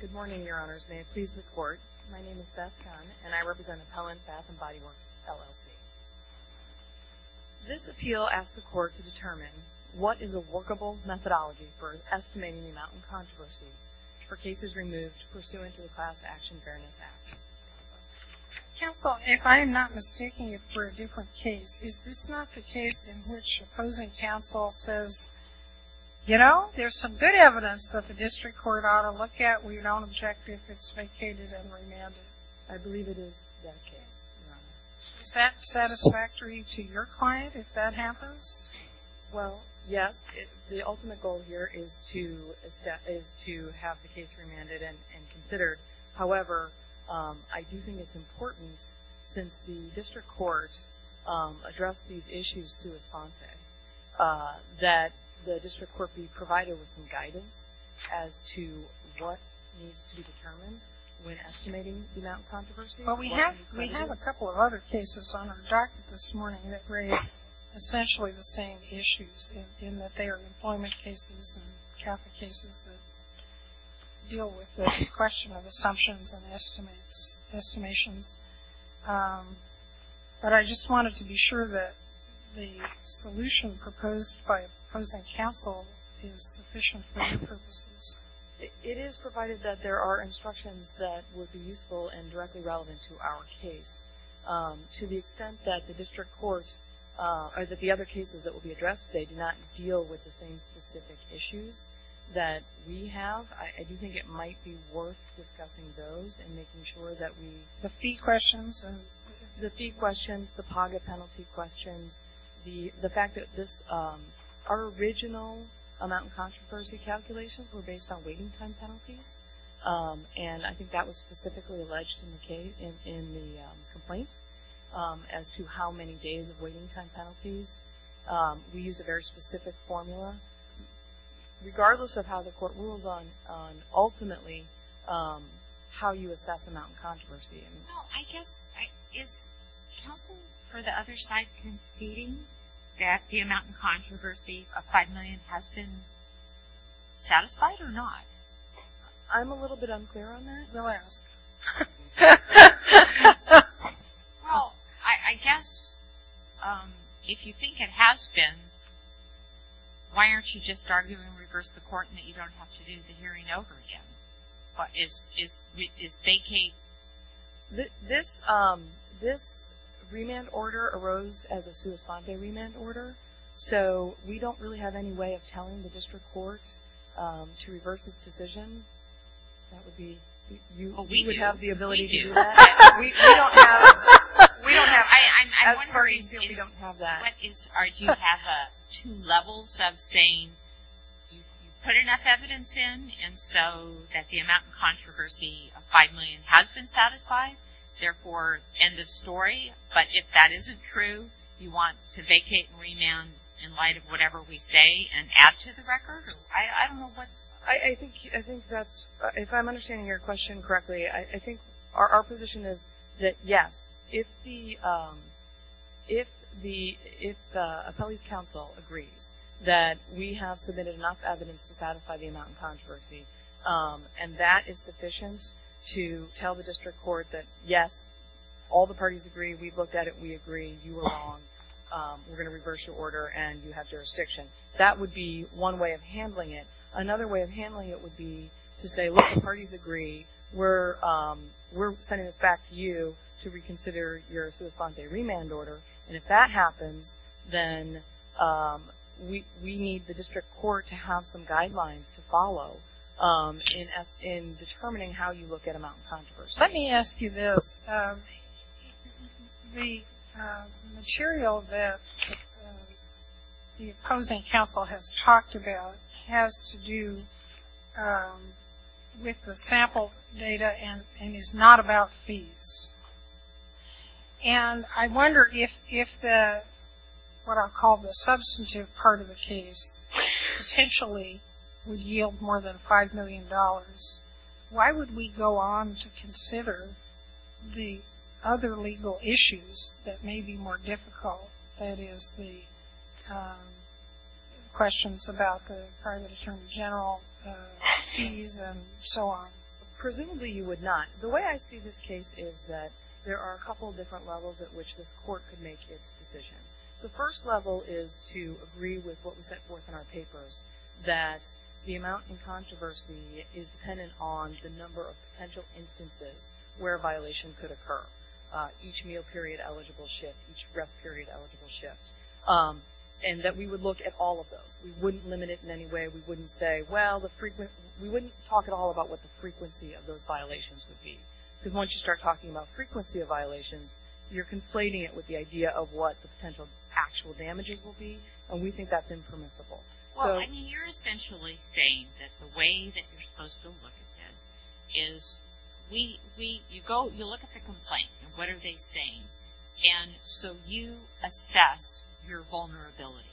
Good morning, Your Honors. May it please the Court, my name is Beth Gunn and I represent Appellant Bath & Body Works, LLC. This appeal asks the Court to determine what is a workable methodology for estimating the amount in controversy for cases removed pursuant to the Class Action Fairness Act. Counsel, if I am not mistaking it for a different case, is this not the case in which opposing counsel says, you know, there's some good evidence that the district court ought to look at, we don't object if it's vacated and remanded? I believe it is that case. Is that satisfactory to your client if that happens? Well, yes, the ultimate goal here is to have the case remanded and considered. However, I do think it's important since the district courts address these issues sui sponte that the district court be provided with some guidance as to what needs to be determined when estimating the amount in controversy. Well, we have a couple of other cases on our docket this morning that raise essentially the same issues in that they are employment cases and Catholic cases that deal with this question of assumptions and estimations. But I just wanted to be sure that the solution proposed by opposing counsel is sufficient for your purposes. It is provided that there are instructions that would be useful and directly relevant to our case. To the extent that the district courts or that the other cases that will be addressed today do not deal with the same specific issues that we have, I do think it might be worth discussing those and making sure that we... The fee questions? The fee questions, the PAGA penalty questions, the fact that our original amount in controversy calculations were based on waiting time penalties. And I think that was specifically alleged in the complaint as to how many days of waiting time penalties. We use a very specific formula regardless of how the court rules on ultimately how you assess the amount in controversy. Well, I guess, is counsel for the other side conceding that the amount in controversy of $5 million has been satisfied or not? I'm a little bit unclear on that. Relax. Well, I guess if you think it has been, why aren't you just arguing to reverse the court and that you don't have to do the hearing over again? Is vacate... This remand order arose as a sua sponde remand order, so we don't really have any way of telling the district courts to reverse this decision. That would be... We do. You would have the ability to do that? We don't have... As far as you feel, we don't have that. Do you have two levels of saying you put enough evidence in and so that the amount in controversy of $5 million has been satisfied, therefore, end of story. But if that isn't true, you want to vacate and remand in light of whatever we say and add to the record? I don't know what's... I think that's... If I'm understanding your question correctly, I think our position is that, yes, if the appellee's counsel agrees that we have submitted enough evidence to satisfy the amount in controversy, and that is sufficient to tell the district court that, yes, all the parties agree. We've looked at it. We agree. You were wrong. We're going to reverse your order, and you have jurisdiction. That would be one way of handling it. Another way of handling it would be to say, look, the parties agree. We're sending this back to you to reconsider your sua sponte remand order, and if that happens, then we need the district court to have some guidelines to follow in determining how you look at amount in controversy. Let me ask you this. The material that the opposing counsel has talked about has to do with the sample data and is not about fees. And I wonder if what I'll call the substantive part of the case potentially would yield more than $5 million, why would we go on to consider the other legal issues that may be more difficult, that is the questions about the private attorney general fees and so on? Presumably you would not. The way I see this case is that there are a couple different levels at which this court could make its decision. The first level is to agree with what was set forth in our papers, that the amount in controversy is dependent on the number of potential instances where a violation could occur, each meal period eligible shift, each rest period eligible shift, and that we would look at all of those. We wouldn't limit it in any way. We wouldn't say, well, we wouldn't talk at all about what the frequency of those violations would be, because once you start talking about frequency of violations, you're conflating it with the idea of what the potential actual damages will be, and we think that's impermissible. So, I mean, you're essentially saying that the way that you're supposed to look at this is, you look at the complaint and what are they saying, and so you assess your vulnerability,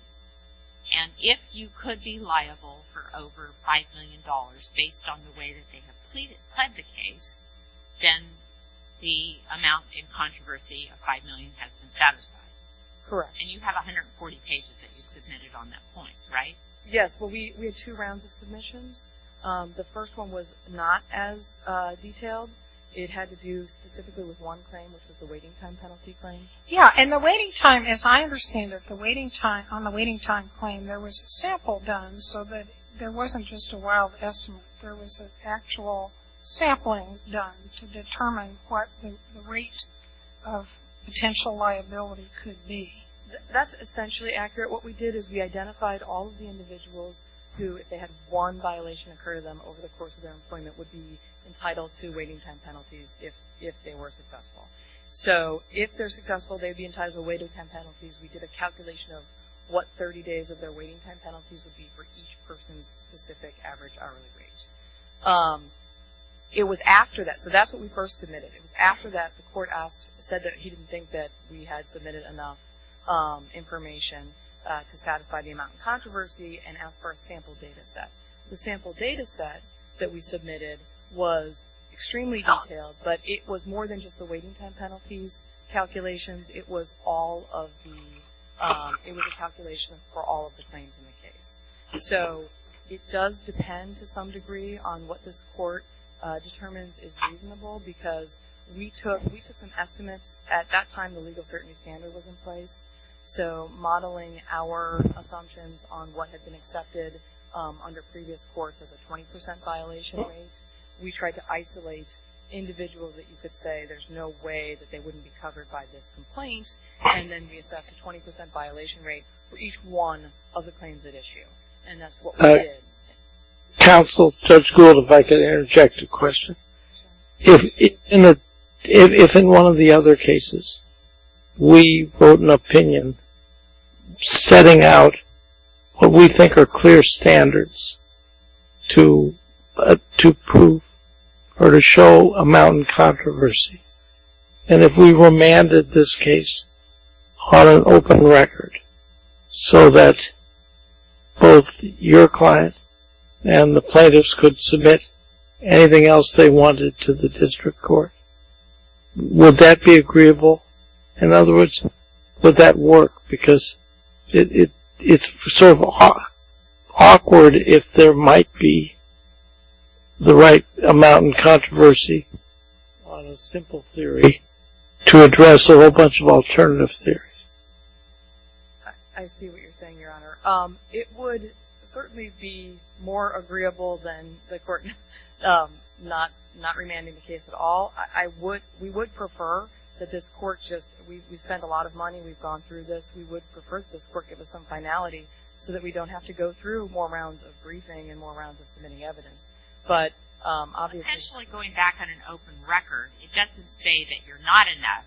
and if you could be liable for over $5 million based on the way that they have pled the case, then the amount in controversy of $5 million has been satisfied. Correct. And you have 140 pages that you submitted on that point, right? Yes. Well, we had two rounds of submissions. The first one was not as detailed. It had to do specifically with one claim, which was the waiting time penalty claim. Yeah, and the waiting time, as I understand it, on the waiting time claim, there was a sample done so that there wasn't just a wild estimate. There was an actual sampling done to determine what the rate of potential liability could be. That's essentially accurate. What we did is we identified all of the individuals who, if they had one violation occur to them over the course of their employment, would be entitled to waiting time penalties if they were successful. So, if they're successful, they'd be entitled to waiting time penalties. We did a calculation of what 30 days of their waiting time penalties would be for each person's specific average hourly rate. It was after that, so that's what we first submitted. It was after that the court said that he didn't think that we had submitted enough information to satisfy the amount of controversy and asked for a sample data set. The sample data set that we submitted was extremely detailed, but it was more than just the waiting time penalties calculations. It was all of the, it was a calculation for all of the claims in the case. So, it does depend to some degree on what this court determines is reasonable because we took some estimates at that time the legal certainty standard was in place. So, modeling our assumptions on what had been accepted under previous courts as a 20% violation rate, we tried to isolate individuals that you could say, there's no way that they wouldn't be covered by this complaint, and then we assessed a 20% violation rate for each one of the claims at issue, and that's what we did. Counsel, Judge Gould, if I could interject a question. If in one of the other cases, we wrote an opinion setting out what we think are clear standards to prove or to show amount in controversy, and if we remanded this case on an open record so that both your client and the plaintiffs could submit anything else they wanted to the district court, would that be agreeable? In other words, would that work? Because it's sort of awkward if there might be the right amount in controversy on a simple theory to address a whole bunch of alternative theories. I see what you're saying, Your Honor. It would certainly be more agreeable than the court not remanding the case at all. I would, we would prefer that this court just, we spent a lot of money, we've gone through this, we would prefer this court give us some finality so that we don't have to go through more rounds of briefing and more rounds of submitting evidence. Potentially going back on an open record, it doesn't say that you're not enough,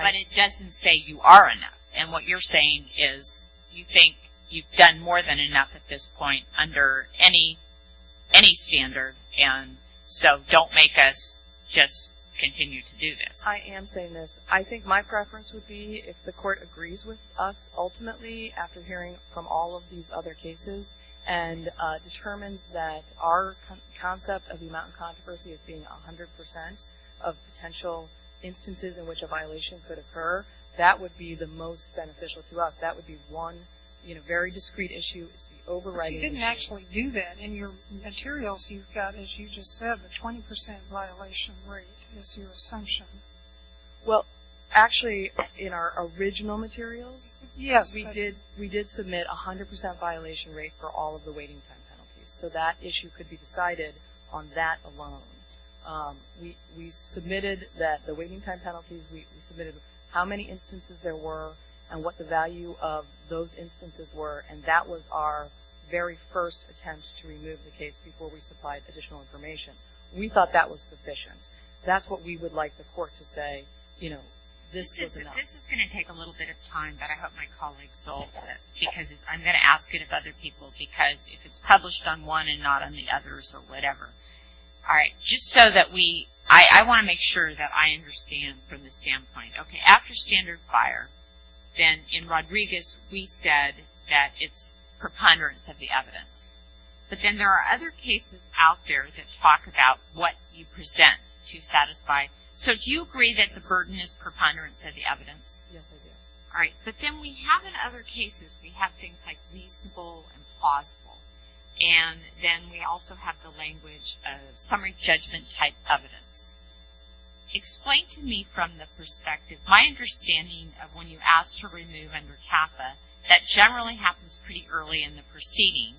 but it doesn't say you are enough. And what you're saying is you think you've done more than enough at this point under any standard, and so don't make us just continue to do this. I am saying this. I think my preference would be if the court agrees with us ultimately, after hearing from all of these other cases, and determines that our concept of the amount in controversy as being 100% of potential instances in which a violation could occur, that would be the most beneficial to us. That would be one very discrete issue. It's the overriding issue. But you didn't actually do that. In your materials, you've got, as you just said, the 20% violation rate is your assumption. Well, actually, in our original materials, we did submit a 100% violation rate for all of the waiting time penalties. So that issue could be decided on that alone. We submitted that the waiting time penalties, we submitted how many instances there were and what the value of those instances were, and that was our very first attempt to remove the case before we supplied additional information. We thought that was sufficient. That's what we would like the court to say, you know, this is enough. This is going to take a little bit of time, but I hope my colleagues don't, because I'm going to ask it of other people, because if it's published on one and not on the others or whatever. All right. Just so that we, I want to make sure that I understand from the standpoint. Okay. After standard fire, then in Rodriguez, we said that it's preponderance of the evidence. But then there are other cases out there that talk about what you present to satisfy. So do you agree that the burden is preponderance of the evidence? Yes, I do. All right. But then we have in other cases, we have things like reasonable and plausible. And then we also have the language of summary judgment type evidence. Explain to me from the perspective, my understanding of when you ask to remove under CAFA, that generally happens pretty early in the proceeding.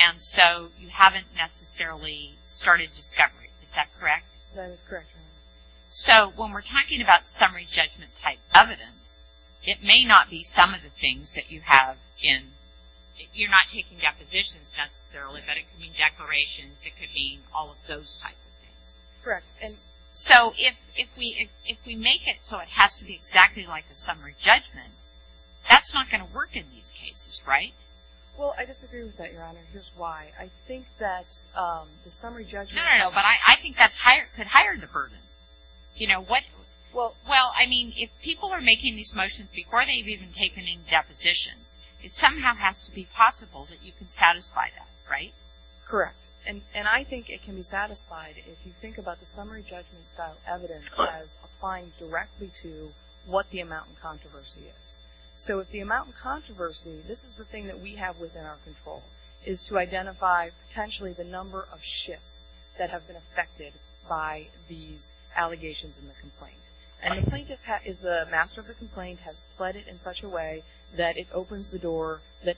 And so you haven't necessarily started discovery. Is that correct? That is correct. So when we're talking about summary judgment type evidence, it may not be some of the things that you have in, you're not taking depositions necessarily, but it could be declarations. It could be all of those types of things. Correct. So if we make it so it has to be exactly like the summary judgment, that's not going to work in these cases, right? Well, I disagree with that, Your Honor. Here's why. I think that the summary judgment... No, no, no. But I think that could higher the burden. You know, what... Well, I mean, if people are making these motions before they've even taken any depositions, it somehow has to be possible that you can satisfy that, right? Correct. And I think it can be satisfied if you think about the summary judgment style evidence as applying directly to what the amount in controversy is. So if the amount in controversy, this is the thing that we have within our control, is to identify potentially the number of shifts that have been affected by these allegations in the complaint. And the plaintiff is the master of the complaint, has fled it in such a way that it opens the door that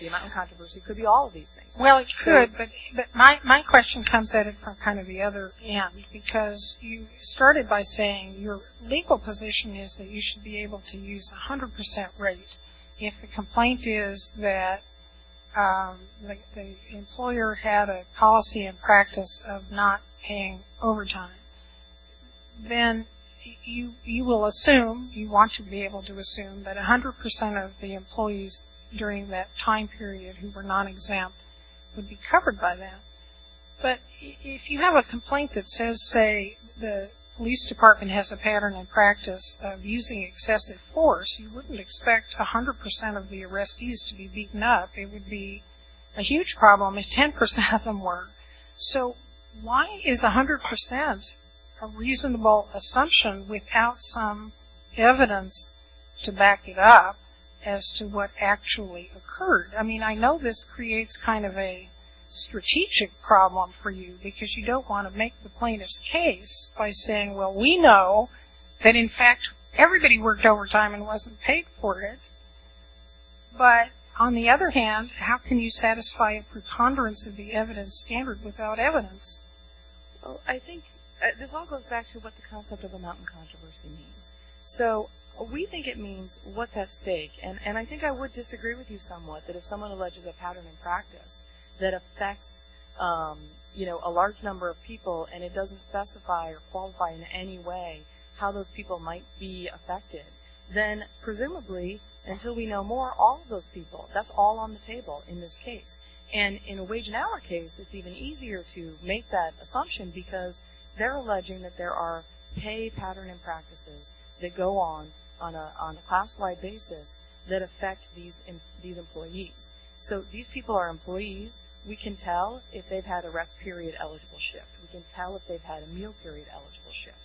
the amount in controversy could be all of these things. Well, it could, but my question comes at it from kind of the other end, because you started by saying your legal position is that you should be able to use 100% rate. If the complaint is that the employer had a policy and practice of not paying overtime, then you will assume, you want to be able to assume that 100% of the employees during that time period who were non-exempt would be covered by that. But if you have a complaint that says, say, the police department has a pattern and practice of using excessive force, you wouldn't expect 100% of the arrestees to be beaten up. It would be a huge problem if 10% of them were. So why is 100% a reasonable assumption without some evidence to back it up as to what actually occurred? I mean, I know this creates kind of a strategic problem for you because you don't want to make the plaintiff's case by saying, well, we know that in fact everybody worked overtime and wasn't paid for it. But on the other hand, how can you satisfy a preponderance of the evidence standard without evidence? I think this all goes back to what the concept of amount in controversy means. So we think it means what's at stake. And I think I would disagree with you somewhat that if someone alleges a pattern and practice that affects a large number of people and it doesn't specify or qualify in any way how those people might be affected, then presumably until we know more, all of those people, that's all on the table in this case. And in a wage and hour case, it's even easier to make that assumption because they're alleging that there are pay pattern and practices that go on, on a class-wide basis that affect these employees. So these people are employees. We can tell if they've had a rest period eligible shift. We can tell if they've had a meal period eligible shift.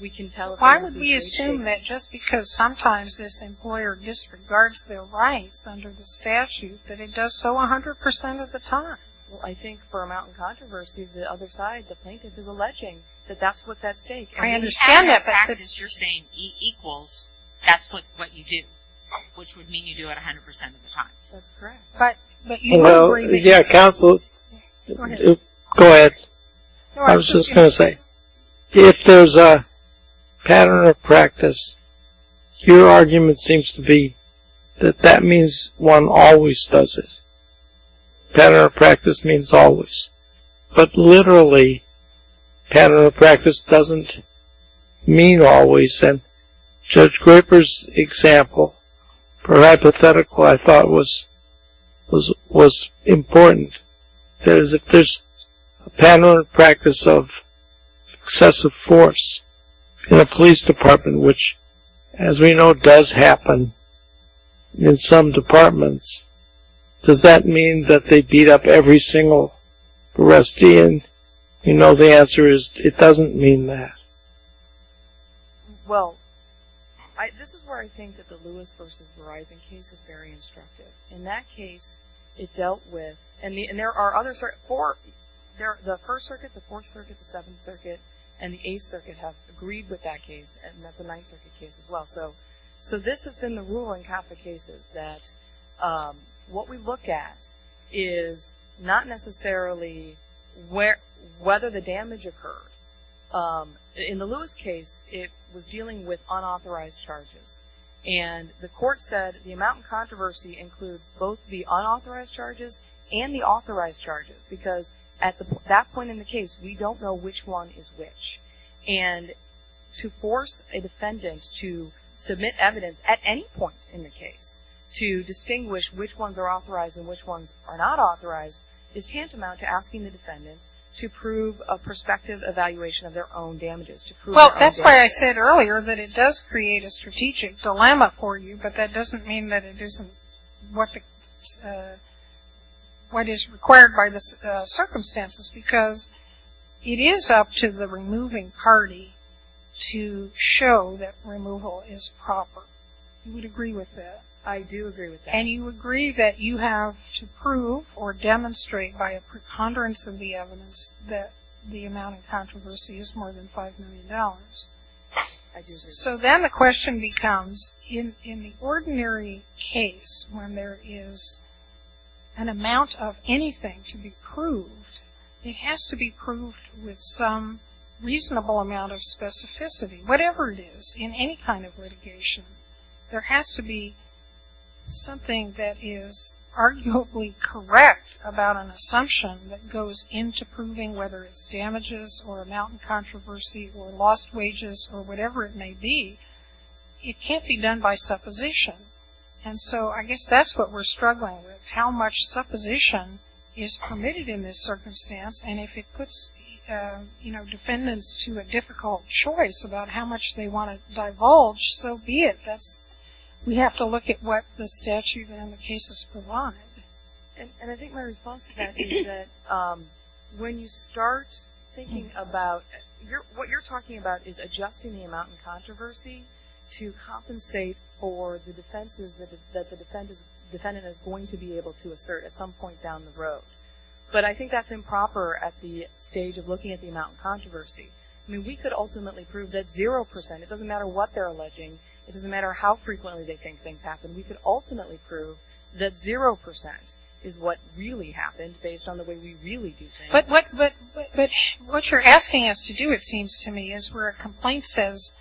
We can tell if there's a wage and hour shift. Why would we assume that just because sometimes this employer disregards their rights under the statute that it does so 100% of the time? Well, I think for amount in controversy, the other side, the plaintiff, is alleging that that's what's at stake. I understand that. If you have a practice you're saying equals, that's what you do, which would mean you do it 100% of the time. That's correct. Yeah, counsel, go ahead. I was just going to say, if there's a pattern of practice, your argument seems to be that that means one always does it. Pattern of practice means always. But literally, pattern of practice doesn't mean always. And Judge Graper's example, hypothetical, I thought was important. That is, if there's a pattern of practice of excessive force in a police department, which, as we know, does happen in some departments, does that mean that they beat up every single Rustian? You know the answer is it doesn't mean that. Well, this is where I think that the Lewis v. Verizon case is very instructive. In that case, it dealt with – and there are other – the First Circuit, the Fourth Circuit, the Seventh Circuit, and the Eighth Circuit have agreed with that case, and that's the Ninth Circuit case as well. So this has been the rule in Catholic cases, that what we look at is not necessarily whether the damage occurred. In the Lewis case, it was dealing with unauthorized charges. And the court said the amount of controversy includes both the unauthorized charges and the authorized charges, because at that point in the case, we don't know which one is which. And to force a defendant to submit evidence at any point in the case to distinguish which ones are authorized and which ones are not authorized is tantamount to asking the defendant to prove a prospective evaluation of their own damages. Well, that's why I said earlier that it does create a strategic dilemma for you, but that doesn't mean that it isn't what is required by the circumstances, because it is up to the removing party to show that removal is proper. You would agree with that? I do agree with that. And you agree that you have to prove or demonstrate by a preconderance of the evidence that the amount of controversy is more than $5 million? I do agree with that. So then the question becomes, in the ordinary case, when there is an amount of anything to be proved, it has to be proved with some reasonable amount of specificity. Whatever it is, in any kind of litigation, there has to be something that is arguably correct about an assumption that goes into proving whether it's damages or amount in controversy or lost wages or whatever it may be. It can't be done by supposition. And so I guess that's what we're struggling with, how much supposition is permitted in this circumstance. And if it puts defendants to a difficult choice about how much they want to divulge, so be it. We have to look at what the statute and the cases provide. And I think my response to that is that when you start thinking about – what you're talking about is adjusting the amount in controversy to compensate for the defenses that the defendant is going to be able to assert at some point down the road. But I think that's improper at the stage of looking at the amount in controversy. I mean, we could ultimately prove that 0%, it doesn't matter what they're alleging, it doesn't matter how frequently they think things happen, we could ultimately prove that 0% is what really happened, based on the way we really do things. But what you're asking us to do, it seems to me, is where a complaint says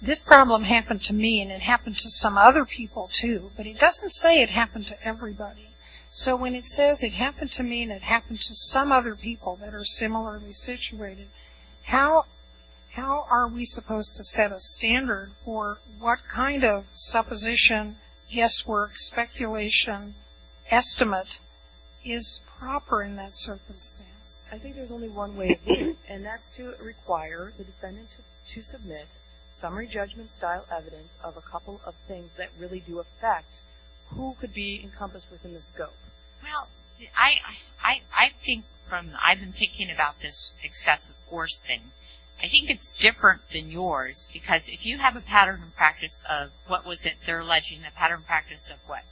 this problem happened to me and it happened to some other people, too. But it doesn't say it happened to everybody. So when it says it happened to me and it happened to some other people that are similarly situated, how are we supposed to set a standard for what kind of supposition, guesswork, speculation, estimate is proper in that circumstance? I think there's only one way to do it, and that's to require the defendant to submit summary judgment-style evidence of a couple of things that really do affect who could be encompassed within the scope. Well, I think from – I've been thinking about this excessive force thing. I think it's different than yours, because if you have a pattern and practice of what was it they're alleging, a pattern and practice of what?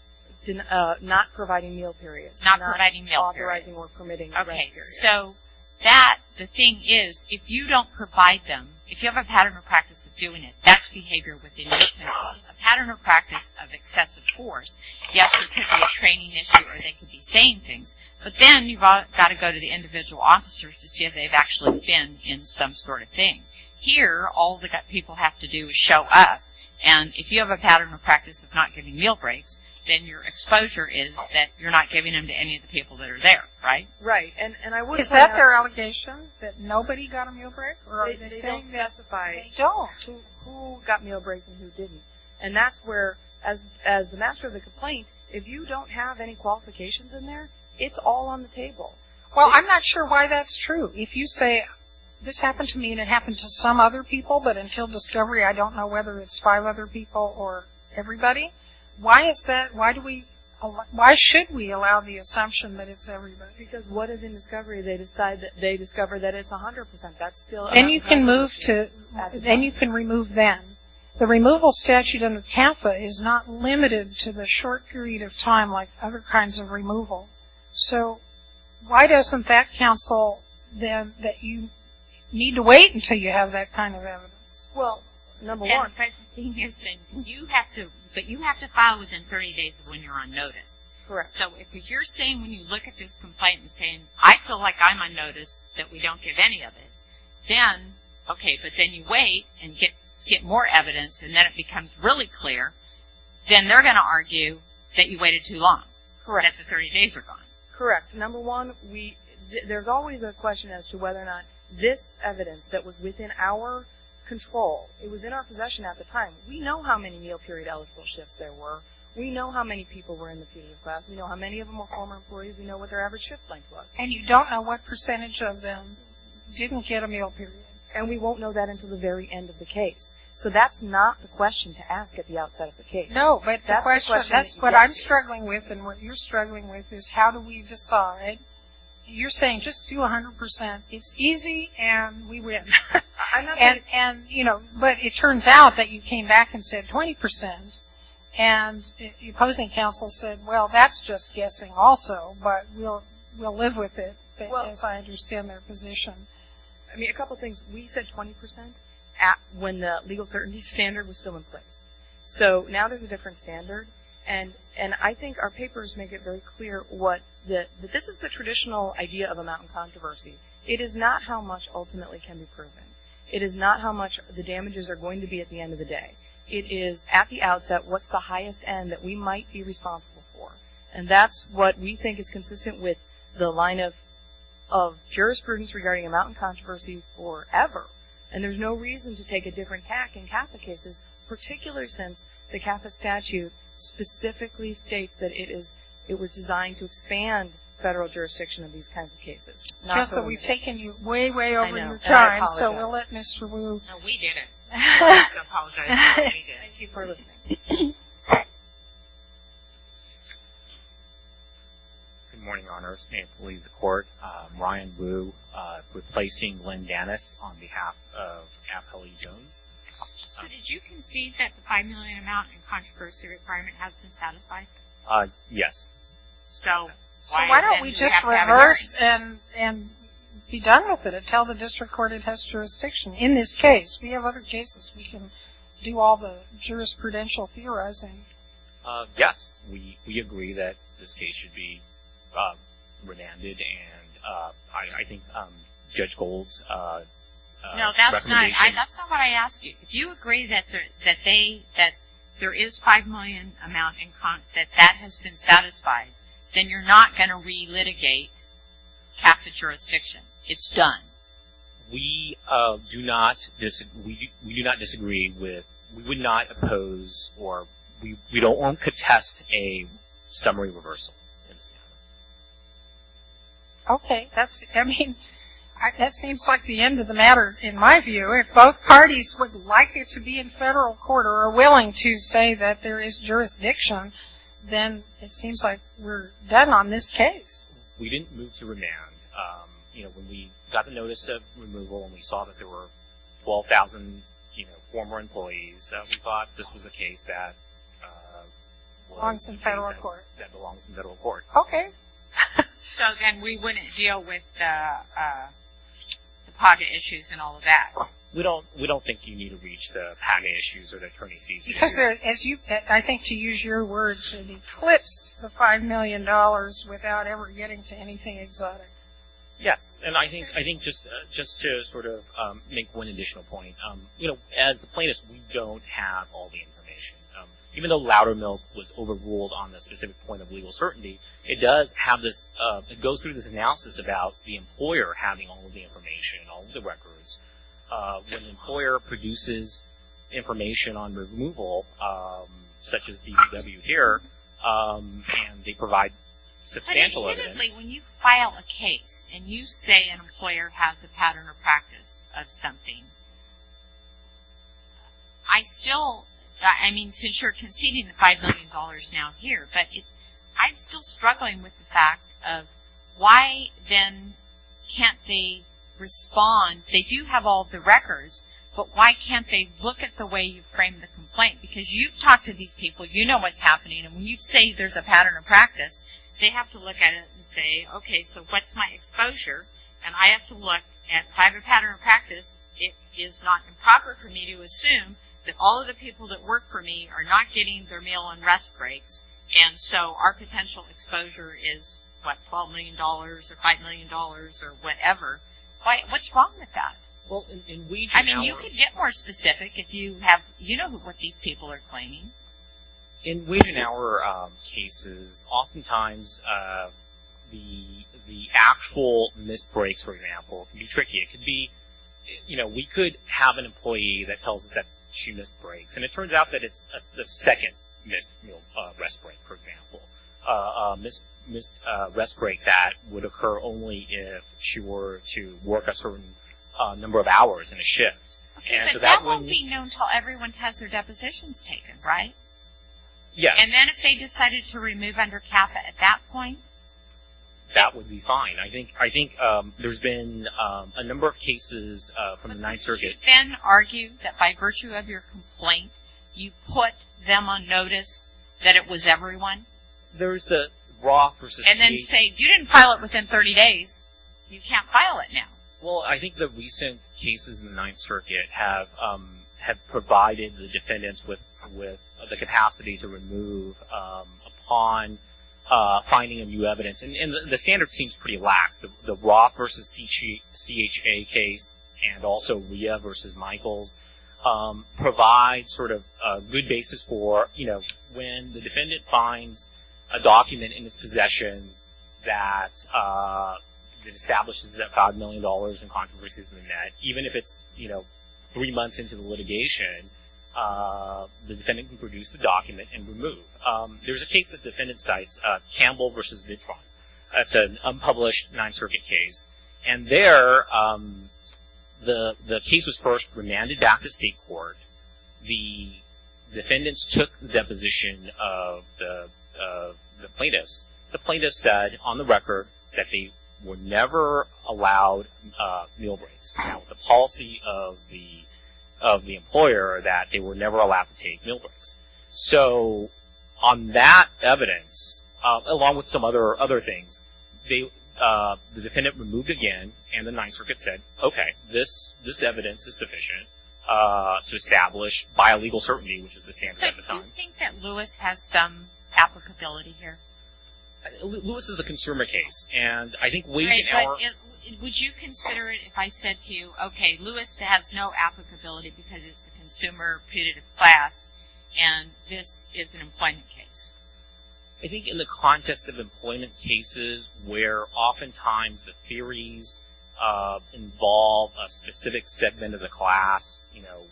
Not providing meal periods. Not providing meal periods. Not authorizing or permitting rest periods. Okay, so that, the thing is, if you don't provide them, if you have a pattern and practice of doing it, that's behavior with indifference. A pattern and practice of excessive force, yes, there could be a training issue or they could be saying things, but then you've got to go to the individual officers to see if they've actually been in some sort of thing. Here, all the people have to do is show up, and if you have a pattern and practice of not giving meal breaks, then your exposure is that you're not giving them to any of the people that are there, right? Right. Is that their allegation, that nobody got a meal break? They don't specify who got meal breaks and who didn't, and that's where, as the master of the complaint, if you don't have any qualifications in there, it's all on the table. Well, I'm not sure why that's true. If you say, this happened to me and it happened to some other people, but until discovery I don't know whether it's five other people or everybody, why should we allow the assumption that it's everybody? Because what if in discovery they discover that it's 100%? Then you can remove them. The removal statute under CAMFA is not limited to the short period of time, like other kinds of removal. So, why doesn't that counsel then that you need to wait until you have that kind of evidence? Well, number one. You have to file within 30 days of when you're on notice. Correct. So, if you're saying when you look at this complaint and saying, I feel like I'm on notice that we don't give any of it, then, okay, but then you wait and get more evidence and then it becomes really clear, then they're going to argue that you waited too long. Correct. That the 30 days are gone. Correct. Number one, there's always a question as to whether or not this evidence that was within our control, it was in our possession at the time. We know how many meal period eligible shifts there were. We know how many people were in the PE class. We know how many of them were former employees. We know what their average shift length was. And you don't know what percentage of them didn't get a meal period. And we won't know that until the very end of the case. So, that's not the question to ask at the outset of the case. No, but that's what I'm struggling with and what you're struggling with is how do we decide. You're saying just do 100%. It's easy and we win. And, you know, but it turns out that you came back and said 20% and your opposing counsel said, well, that's just guessing also, but we'll live with it as I understand their position. I mean, a couple things. We said 20% when the legal certainty standard was still in place. So, now there's a different standard. And I think our papers make it very clear that this is the traditional idea of a mountain controversy. It is not how much ultimately can be proven. It is not how much the damages are going to be at the end of the day. It is at the outset what's the highest end that we might be responsible for. And that's what we think is consistent with the line of jurisprudence regarding a mountain controversy forever. And there's no reason to take a different tack in Catholic cases, particularly since the Catholic statute specifically states that it is, it was designed to expand federal jurisdiction in these kinds of cases. So, we've taken you way, way over your time. So, we'll let Mr. Wu. No, we didn't. I apologize. We did. Thank you for listening. Good morning, Your Honors. May it please the Court, Ryan Wu replacing Glenn Gannis on behalf of Kathleen Jones. So, did you concede that the five million amount in controversy requirement has been satisfied? Yes. So, why don't we just reverse and be done with it and tell the district court it has jurisdiction. In this case, we have other cases. We can do all the jurisprudential theorizing. Yes, we agree that this case should be remanded. And I think Judge Gold's recommendation. No, that's not what I asked you. If you agree that there is five million amount that that has been satisfied, then you're not going to relitigate Catholic jurisdiction. It's done. We do not disagree with, we would not oppose, or we don't want to contest a summary reversal. Okay. I mean, that seems like the end of the matter in my view. If both parties would like it to be in federal court or are willing to say that there is jurisdiction, then it seems like we're done on this case. We didn't move to remand. You know, when we got the notice of removal and we saw that there were 12,000, you know, former employees, we thought this was a case that belongs in federal court. Okay. So, then we wouldn't deal with the pocket issues and all of that. We don't think you need to reach the pocket issues or the attorney's fees. Because as you, I think to use your words, it eclipsed the five million dollars without ever getting to anything exotic. Yes. And I think just to sort of make one additional point, you know, as plaintiffs, we don't have all the information. Even though Loudermilk was overruled on the specific point of legal certainty, it does have this, it goes through this analysis about the employer having all of the information, all of the records. When the employer produces information on removal, such as the DW here, and they provide substantial evidence. But admittedly, when you file a case and you say an employer has a pattern or practice of something, I still, I mean, since you're conceding the five million dollars now here, but I'm still struggling with the fact of why then can't they respond? They do have all of the records, but why can't they look at the way you frame the complaint? Because you've talked to these people, you know what's happening, and when you say there's a pattern of practice, they have to look at it and say, okay, so what's my exposure? And I have to look at if I have a pattern of practice, it is not improper for me to assume that all of the people that work for me are not getting their meal and rest breaks, and so our potential exposure is what, 12 million dollars or five million dollars or whatever. What's wrong with that? I mean, you could get more specific if you have, you know what these people are claiming. In wage and hour cases, oftentimes the actual missed breaks, for example, can be tricky. It could be, you know, we could have an employee that tells us that she missed breaks, and it turns out that it's the second missed rest break, for example, a missed rest break that would occur only if she were to work a certain number of hours in a shift. Okay, but that won't be known until everyone has their depositions taken, right? Yes. And then if they decided to remove under CAFA at that point? That would be fine. I think there's been a number of cases from the Ninth Circuit. Would you then argue that by virtue of your complaint, you put them on notice that it was everyone? There's the Roth versus CHA. And then say, you didn't file it within 30 days. You can't file it now. Well, I think the recent cases in the Ninth Circuit have provided the defendants with the capacity to remove upon finding a new evidence, and the standard seems pretty lax. The Roth versus CHA case and also Leah versus Michaels provide sort of good basis for, you know, when the defendant finds a document in his possession that establishes that $5 million and controversies have been met, even if it's, you know, three months into the litigation, the defendant can produce the document and remove. There's a case the defendant cites, Campbell versus Mitron. That's an unpublished Ninth Circuit case. And there, the case was first remanded back to state court. The defendants took the deposition of the plaintiffs. The plaintiffs said on the record that they were never allowed meal breaks. The policy of the employer that they were never allowed to take meal breaks. So on that evidence, along with some other things, the defendant removed again and the Ninth Circuit said, okay, this evidence is sufficient to establish by a legal certainty, which is the standard at the time. Do you think that Lewis has some applicability here? Lewis is a consumer case, and I think wage and hour Right, but would you consider it if I said to you, okay, Lewis has no applicability because it's a consumer punitive class, and this is an employment case? I think in the context of employment cases where oftentimes the theories involve a specific segment of the class, you know,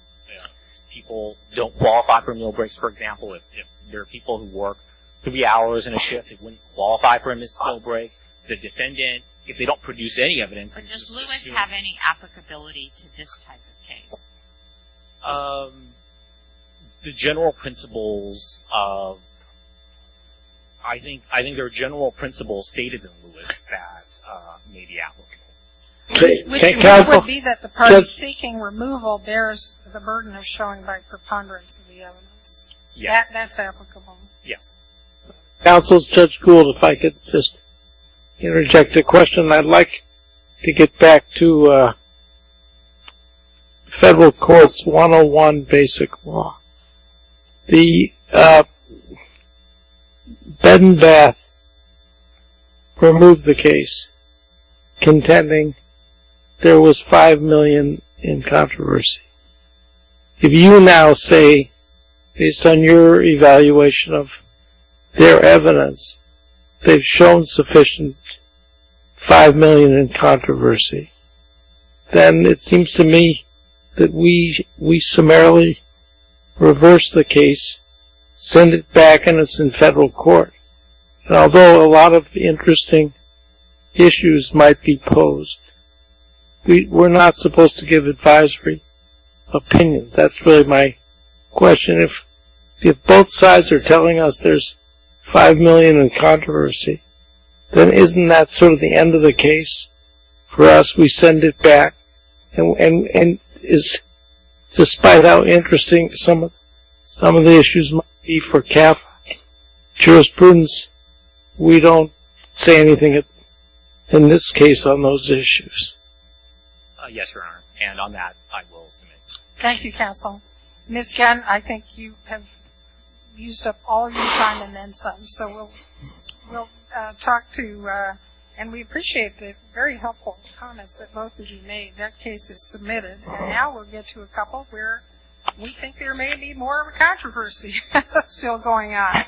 people don't qualify for meal breaks. For example, if there are people who work three hours in a shift, they wouldn't qualify for a missed meal break. The defendant, if they don't produce any evidence Does Lewis have any applicability to this type of case? The general principles, I think there are general principles stated in Lewis that may be applicable. Which would be that the part of seeking removal bears the burden of showing by preponderance of the evidence. Yes. That's applicable. Yes. Counsel Judge Gould, if I could just interject a question. I'd like to get back to Federal Courts 101 Basic Law. The Bed and Bath removed the case contending there was $5 million in controversy. If you now say, based on your evaluation of their evidence, they've shown sufficient $5 million in controversy, then it seems to me that we summarily reverse the case, send it back, and it's in federal court. Although a lot of interesting issues might be posed, we're not supposed to give advisory opinions. That's really my question. If both sides are telling us there's $5 million in controversy, then isn't that sort of the end of the case for us? We send it back. And despite how interesting some of the issues might be for CAF jurisprudence, we don't say anything in this case on those issues. Yes, Your Honor. And on that, I will submit. Thank you, Counsel. Ms. Gannon, I think you have used up all your time and then some. So we'll talk to you. And we appreciate the very helpful comments that both of you made. That case is submitted. And now we'll get to a couple where we think there may be more of a controversy still going on.